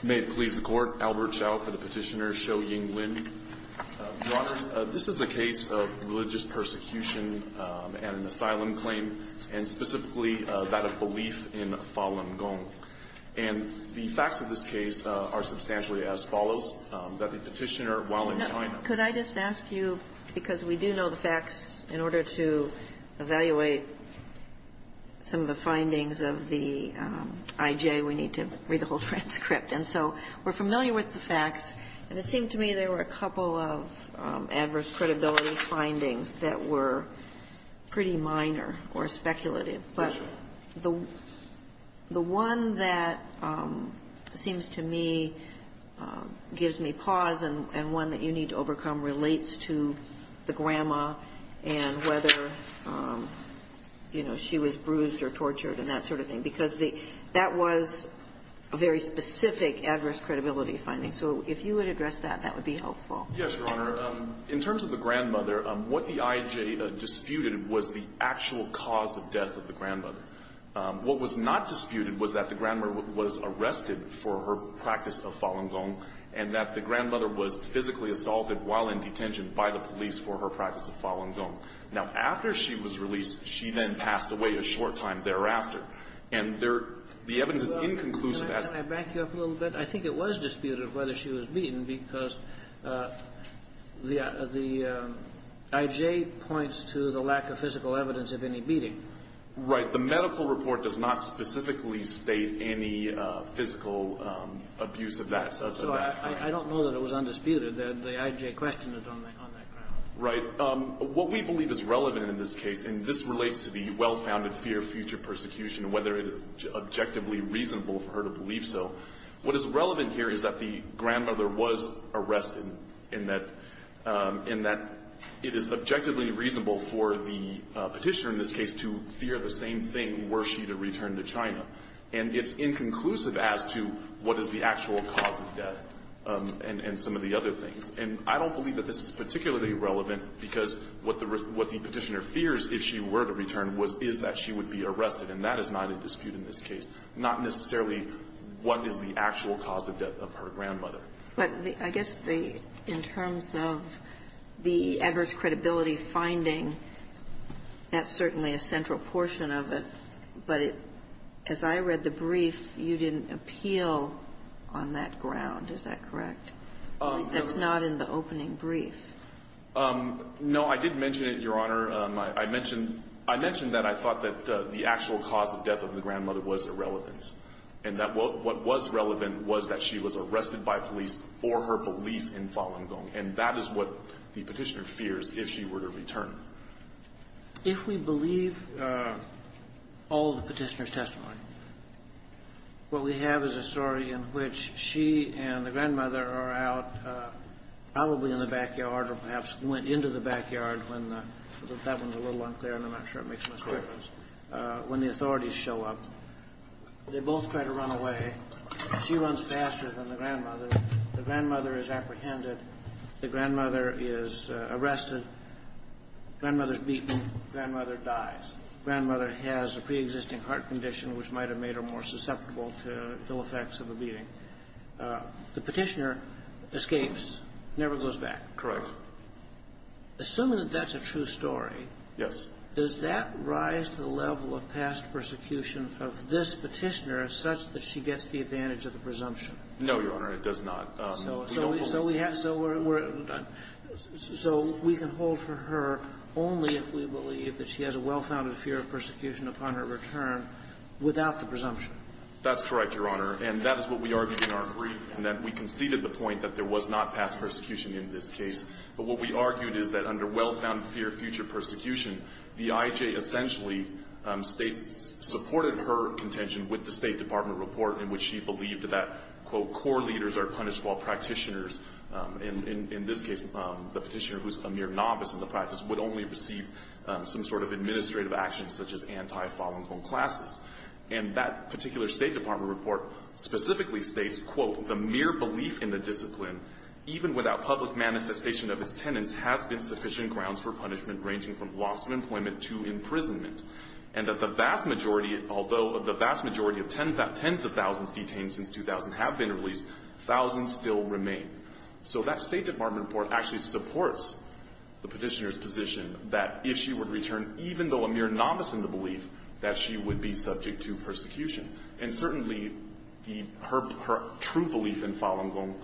May it please the Court, Albert Hsiao for the petitioner, Shou-Ying Lin. Your Honors, this is a case of religious persecution and an asylum claim, and specifically that of belief in Falun Gong. And the facts of this case are substantially as follows, that the petitioner, while in China. Could I just ask you, because we do know the facts, in order to evaluate some of the findings of the IJ, we need to read the whole transcript. And so we're familiar with the facts, and it seemed to me there were a couple of adverse credibility findings that were pretty minor or speculative. But the one that seems to me gives me pause and one that you need to overcome relates to the grandma and whether, you know, she was bruised or tortured and that sort of thing. Because that was a very specific adverse credibility finding. So if you would address that, that would be helpful. Yes, Your Honor. In terms of the grandmother, what the IJ disputed was the actual cause of death of the grandmother. What was not disputed was that the grandmother was arrested for her practice of Falun Gong and that the grandmother was physically assaulted while in detention by the police for her practice of Falun Gong. Now, after she was released, she then passed away a short time thereafter. And there the evidence is inconclusive as to why she was beaten. Can I back you up a little bit? I think it was disputed whether she was beaten because the IJ points to the lack of physical evidence of any beating. Right. The medical report does not specifically state any physical abuse of that. So I don't know that it was undisputed that the IJ questioned it on that ground. Right. What we believe is relevant in this case, and this relates to the well-founded fear of future persecution and whether it is objectively reasonable for her to believe so, what is relevant here is that the grandmother was arrested and that it is objectively reasonable for the Petitioner in this case to fear the same thing were she to return to China. And it's inconclusive as to what is the actual cause of death and some of the other things. And I don't believe that this is particularly relevant because what the Petitioner fears, if she were to return, is that she would be arrested. And that is not in dispute in this case. Not necessarily what is the actual cause of death of her grandmother. But I guess the – in terms of the adverse credibility finding, that's certainly a central portion of it. But as I read the brief, you didn't appeal on that ground. Is that correct? No. That's not in the opening brief. No. I did mention it, Your Honor. I mentioned that I thought that the actual cause of death of the grandmother was irrelevant and that what was relevant was that she was arrested by police for her belief in Falun Gong. And that is what the Petitioner fears if she were to return. If we believe all the Petitioner's testimony, what we have is a story in which she and the grandmother are out probably in the backyard or perhaps went into the backyard when the – that one's a little unclear and I'm not sure it makes much difference – when the authorities show up. They both try to run away. She runs faster than the grandmother. The grandmother is apprehended. The grandmother is arrested. Grandmother is beaten. Grandmother dies. Grandmother has a preexisting heart condition which might have made her more susceptible to ill effects of a beating. The Petitioner escapes, never goes back. Correct. Assuming that that's a true story. Yes. Does that rise to the level of past persecution of this Petitioner such that she gets the advantage of the presumption? No, Your Honor. It does not. So we have – so we're – so we can hold for her only if we believe that she has a well-founded fear of persecution upon her return without the presumption. That's correct, Your Honor. And that is what we argued in our brief in that we conceded the point that there But what we argued is that under well-found fear of future persecution, the IJ essentially supported her contention with the State Department report in which she believed that, quote, core leaders are punished while practitioners, in this case the Petitioner who's a mere novice in the practice, would only receive some sort of administrative actions such as anti-falling-home classes. And that particular State Department report specifically states, quote, the mere belief in the discipline, even without public manifestation of its tenets, has been sufficient grounds for punishment ranging from loss of employment to imprisonment. And that the vast majority – although the vast majority of tens of thousands detained since 2000 have been released, thousands still remain. So that State Department report actually supports the Petitioner's position that if she would return, even though a mere novice in the belief, that she would be subject to persecution. And certainly the – her true belief in falling home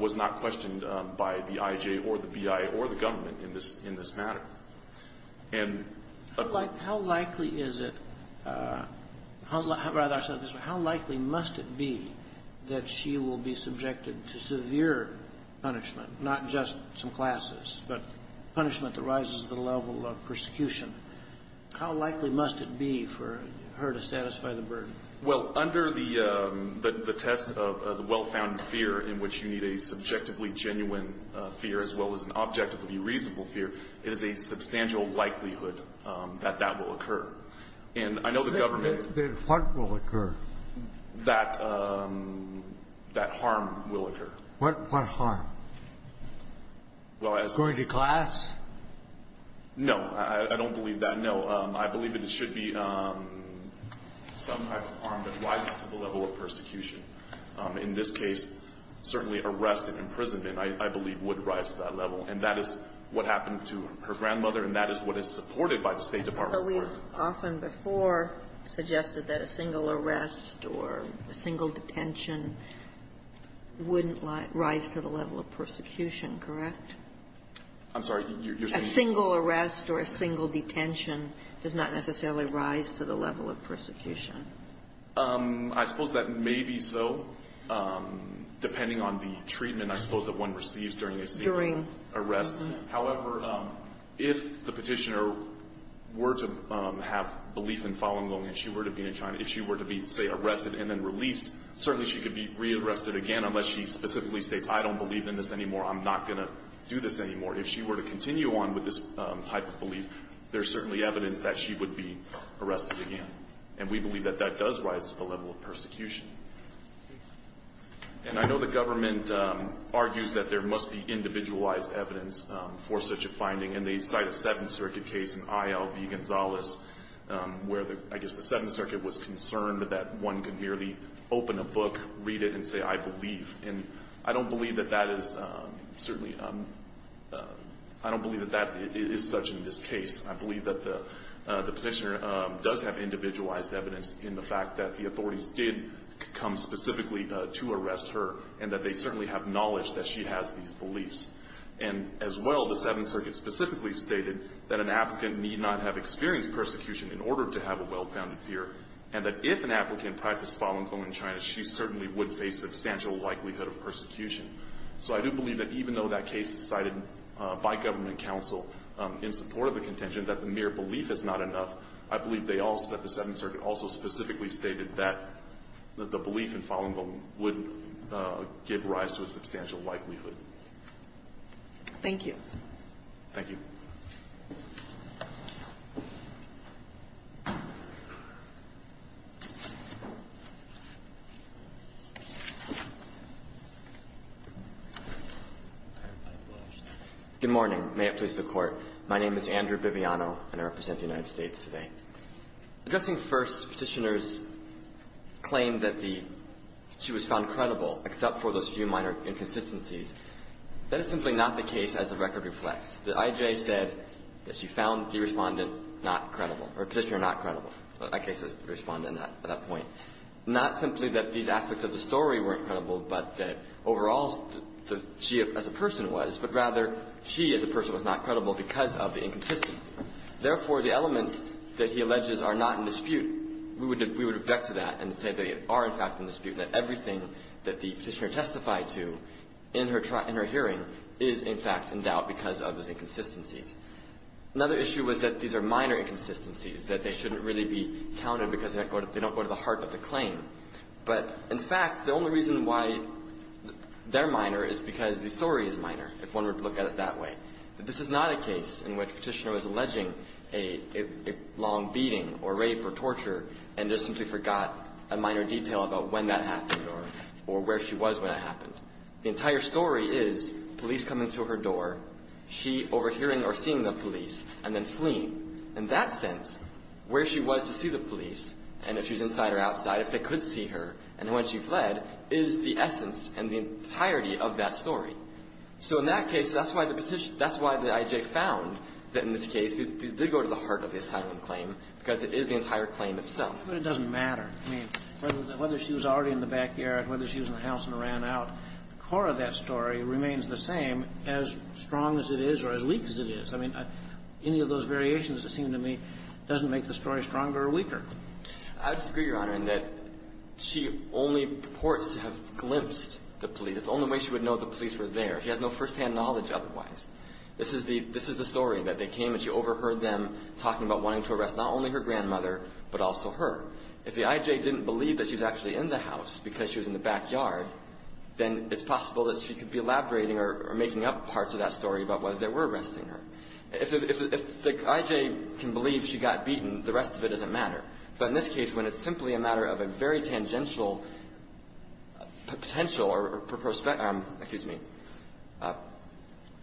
was not questioned by the IJ or the BI or the government in this – in this matter. And – How likely is it – rather, I'll say it this way. How likely must it be that she will be subjected to severe punishment, not just some classes, but punishment that rises to the level of persecution? How likely must it be for her to satisfy the burden? Well, under the – the test of the well-found fear in which you need a subjectively genuine fear as well as an objectively reasonable fear, it is a substantial likelihood that that will occur. And I know the government – Then what will occur? That – that harm will occur. What harm? Well, as – Going to class? No. I don't believe that. No. I believe it should be some type of harm that rises to the level of persecution. In this case, certainly arrest and imprisonment, I believe, would rise to that level. And that is what happened to her grandmother, and that is what is supported by the State Department. But we have often before suggested that a single arrest or a single detention wouldn't rise to the level of persecution, correct? I'm sorry. A single arrest or a single detention does not necessarily rise to the level of persecution. I suppose that may be so, depending on the treatment, I suppose, that one receives during a single arrest. However, if the Petitioner were to have belief in Falun Gong and she were to be in China, if she were to be, say, arrested and then released, certainly she could be re-arrested again unless she specifically states, I don't believe in this anymore. I'm not going to do this anymore. If she were to continue on with this type of belief, there's certainly evidence that she would be arrested again. And we believe that that does rise to the level of persecution. And I know the government argues that there must be individualized evidence for such a finding. And they cite a Seventh Circuit case in IL v. Gonzales where the – I guess the And I don't believe that that is certainly – I don't believe that that is such in this case. I believe that the Petitioner does have individualized evidence in the fact that the authorities did come specifically to arrest her and that they certainly have knowledge that she has these beliefs. And as well, the Seventh Circuit specifically stated that an applicant need not have experienced persecution in order to have a well-founded fear, and that if an applicant practiced Falun Gong in China, she certainly would face substantial likelihood of persecution. So I do believe that even though that case is cited by government counsel in support of the contention that the mere belief is not enough, I believe they also – that the Seventh Circuit also specifically stated that the belief in Falun Gong would give rise to a substantial likelihood. Thank you. Thank you. Thank you. Good morning. May it please the Court. My name is Andrew Viviano, and I represent the United States today. Addressing first Petitioner's claim that the – she was found credible except for those few minor inconsistencies, that is simply not the case as the record reflects. The IJ said that she found the Respondent not credible, or Petitioner not credible. That case is Respondent at that point. Not simply that these aspects of the story weren't credible, but that overall she as a person was, but rather she as a person was not credible because of the inconsistency. Therefore, the elements that he alleges are not in dispute, we would – we would object to that and say they are, in fact, in dispute, that everything that the Petitioner testified to in her hearing is, in fact, in doubt because of those inconsistencies. Another issue was that these are minor inconsistencies, that they shouldn't really be counted because they don't go to the heart of the claim. But in fact, the only reason why they're minor is because the story is minor, if one were to look at it that way. This is not a case in which Petitioner was alleging a long beating or rape or torture and just simply forgot a minor detail about when that happened or where she was when that happened. The entire story is police coming to her door, she overhearing or seeing the police, and then fleeing. In that sense, where she was to see the police, and if she's inside or outside, if they could see her, and when she fled, is the essence and the entirety of that story. So in that case, that's why the Petitioner – that's why the I.J. found that in this case it did go to the heart of the asylum claim because it is the entire claim itself. But it doesn't matter. I mean, whether she was already in the backyard, whether she was in the house and ran out, the core of that story remains the same, as strong as it is or as weak as it is. I mean, any of those variations, it seems to me, doesn't make the story stronger or weaker. I disagree, Your Honor, in that she only purports to have glimpsed the police. It's the only way she would know the police were there. She had no firsthand knowledge otherwise. This is the story, that they came and she overheard them talking about wanting to arrest not only her grandmother, but also her. If the I.J. didn't believe that she was actually in the house because she was in the backyard, then it's possible that she could be elaborating or making up parts of that story about whether they were arresting her. If the I.J. can believe she got beaten, the rest of it doesn't matter. But in this case, when it's simply a matter of a very tangential potential or prospect – excuse me –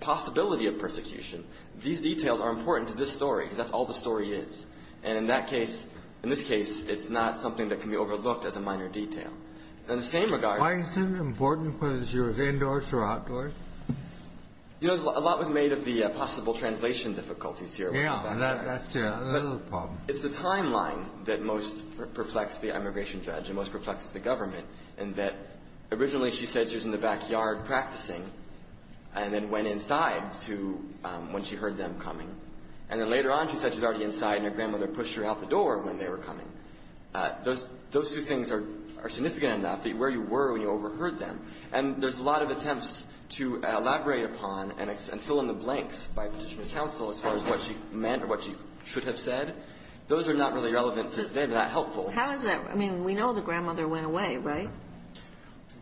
possibility of persecution, these details are important to this story because that's all the story is. And in that case, in this case, it's not something that can be overlooked as a minor detail. In the same regard – Why is it important whether she was indoors or outdoors? You know, a lot was made of the possible translation difficulties here. Yeah. That's the problem. It's the timeline that most perplexed the immigration judge and most perplexed the government, in that originally she said she was in the backyard practicing and then went inside to – when she heard them coming. And then later on, she said she was already inside and her grandmother pushed her out the door when they were coming. Those two things are significant enough, where you were when you overheard them. And there's a lot of attempts to elaborate upon and fill in the blanks by Petitioner's counsel as far as what she meant or what she should have said. Those are not really relevant since they're not helpful. How is that – I mean, we know the grandmother went away, right?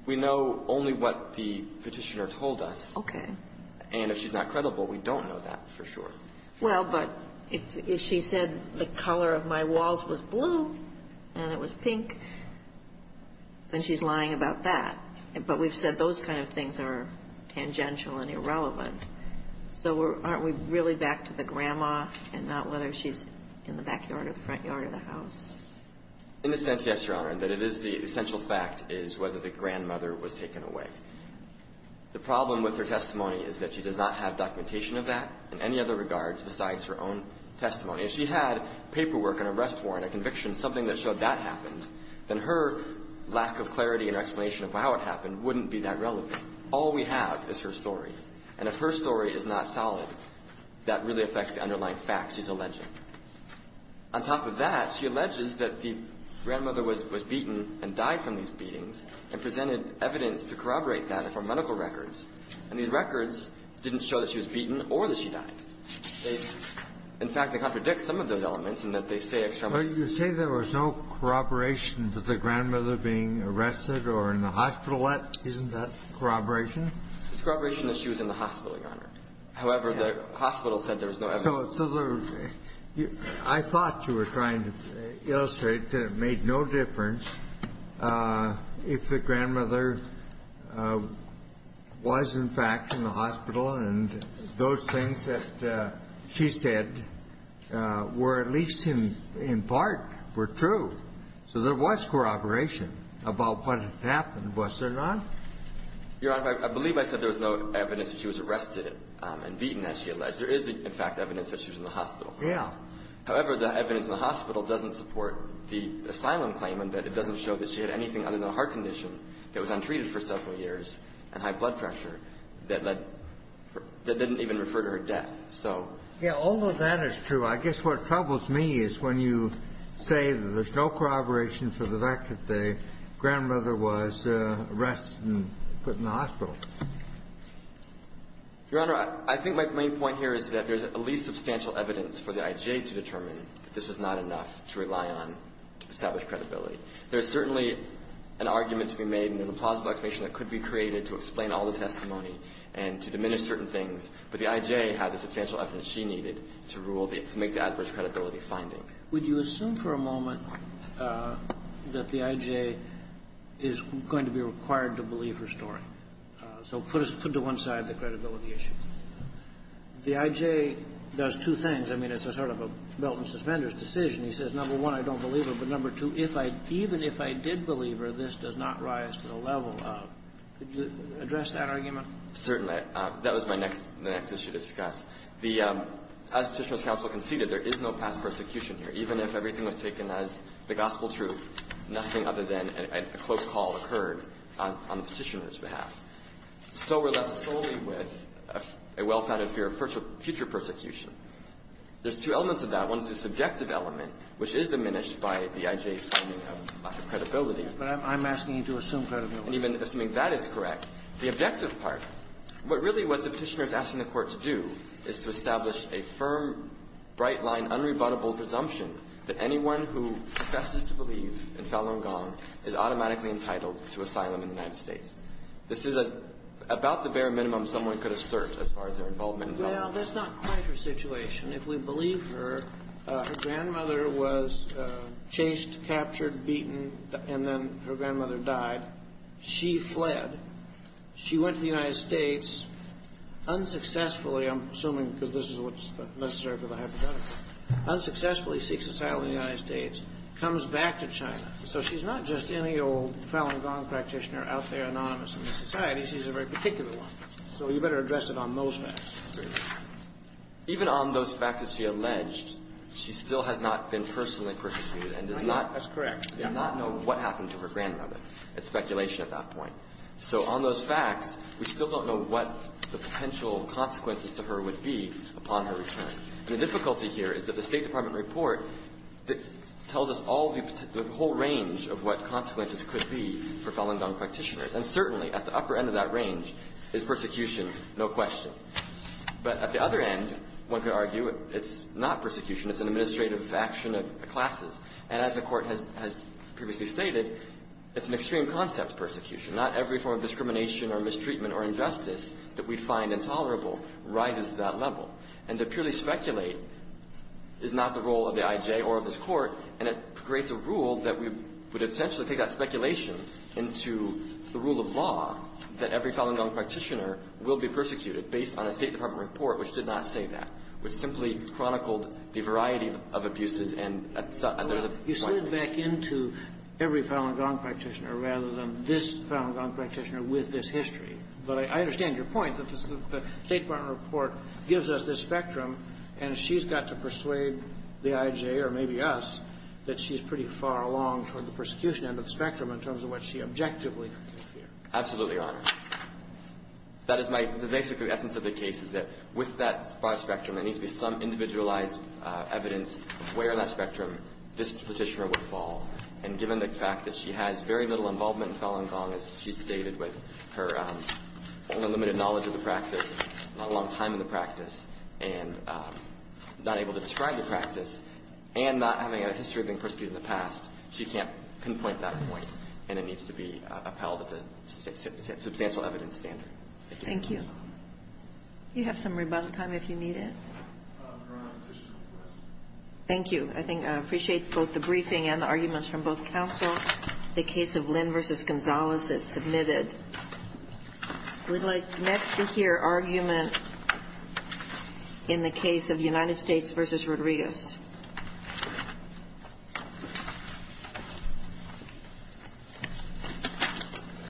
We know only what the Petitioner told us. Okay. And if she's not credible, we don't know that for sure. Well, but if she said the color of my walls was blue and it was pink, then she's lying about that. But we've said those kind of things are tangential and irrelevant. So aren't we really back to the grandma and not whether she's in the backyard or the front yard of the house? In a sense, yes, Your Honor. But it is the essential fact is whether the grandmother was taken away. The problem with her testimony is that she does not have documentation of that in any other regards besides her own testimony. If she had paperwork, an arrest warrant, a conviction, something that showed that happened, then her lack of clarity and explanation of how it happened wouldn't be that relevant. All we have is her story. And if her story is not solid, that really affects the underlying facts she's alleging. On top of that, she alleges that the grandmother was beaten and died from these beatings and presented evidence to corroborate that from medical records. And these records didn't show that she was beaten or that she died. In fact, they contradict some of those elements in that they stay extremely consistent. Kennedy. Well, you say there was no corroboration to the grandmother being arrested or in the hospital. Isn't that corroboration? It's corroboration that she was in the hospital, Your Honor. However, the hospital said there was no evidence. Kennedy. So I thought you were trying to illustrate that it made no difference if the grandmother was, in fact, in the hospital and those things that she said were at least in part were true. So there was corroboration about what had happened, was there not? Your Honor, I believe I said there was no evidence that she was arrested and beaten, as she alleged. There is, in fact, evidence that she was in the hospital. Kennedy. Yeah. However, the evidence in the hospital doesn't support the asylum claim and that doesn't show that she had anything other than a heart condition that was untreated for several years and high blood pressure that led to her death. That didn't even refer to her death, so. Yeah, all of that is true. I guess what troubles me is when you say that there's no corroboration for the fact that the grandmother was arrested and put in the hospital. Your Honor, I think my main point here is that there's at least substantial evidence for the IJ to determine that this was not enough to rely on to establish credibility. There's certainly an argument to be made and a plausible explanation that could be created to explain all the testimony and to diminish certain things. But the IJ had the substantial evidence she needed to rule the – to make the adverse credibility finding. Would you assume for a moment that the IJ is going to be required to believe her story? So put us – put to one side the credibility issue. The IJ does two things. I mean, it's a sort of a belt and suspenders decision. He says, number one, I don't believe her, but number two, if I – even if I did believe her, this does not rise to the level of. Could you address that argument? Certainly. That was my next – the next issue to discuss. The – as Petitioner's counsel conceded, there is no past persecution here. Even if everything was taken as the gospel truth, nothing other than a close call occurred on the Petitioner's behalf. So we're left solely with a well-founded fear of future persecution. There's two elements of that. One is the subjective element, which is diminished by the IJ's finding of lack of credibility. But I'm asking you to assume credibility. And even assuming that is correct. The objective part, what really what the Petitioner is asking the Court to do is to establish a firm, bright-line, unrebuttable presumption that anyone who professes to believe in Falun Gong is automatically entitled to asylum in the United States. This is about the bare minimum someone could assert as far as their involvement in Falun Gong. Well, that's not quite her situation. If we believe her, her grandmother was chased, captured, beaten, and then her grandmother died. She fled. She went to the United States unsuccessfully. I'm assuming because this is what's necessary for the hypothetical. Unsuccessfully seeks asylum in the United States, comes back to China. So she's not just any old Falun Gong practitioner out there anonymous in this society. She's a very particular one. So you better address it on those facts. Even on those facts that she alleged, she still has not been personally persecuted and does not know what happened to her grandmother. It's speculation at that point. So on those facts, we still don't know what the potential consequences to her would be upon her return. The difficulty here is that the State Department report tells us all the whole range of what consequences could be for Falun Gong practitioners. And certainly at the upper end of that range is persecution, no question. But at the other end, one could argue it's not persecution. It's an administrative faction of classes. And as the Court has previously stated, it's an extreme concept, persecution. Not every form of discrimination or mistreatment or injustice that we'd find intolerable rises to that level. And to purely speculate is not the role of the IJ or of this Court, and it creates a rule that we would essentially take that speculation into the rule of law that every Falun Gong practitioner will be persecuted based on a State Department report which did not say that, which simply chronicled the variety of abuses. And there's a point there. You slid back into every Falun Gong practitioner rather than this Falun Gong practitioner with this history. But I understand your point that the State Department report gives us this spectrum, and she's got to persuade the IJ or maybe us that she's pretty far along toward the persecution end of the spectrum in terms of what she objectively could fear. Absolutely, Your Honor. That is my – the basic essence of the case is that with that broad spectrum, there needs to be some individualized evidence of where on that spectrum this Petitioner would fall. And given the fact that she has very little involvement in Falun Gong, as she stated, with her limited knowledge of the practice, not a long time in the practice, and not able to describe the practice, and not having a history of being in the past, she can't pinpoint that point, and it needs to be upheld at the substantial evidence standard. Thank you. Do you have some rebuttal time if you need it? Your Honor, additional questions. Thank you. I think I appreciate both the briefing and the arguments from both counsel. The case of Lynn v. Gonzales is submitted. We'd like next to hear argument in the case of United States v. Rodriguez. Thank you.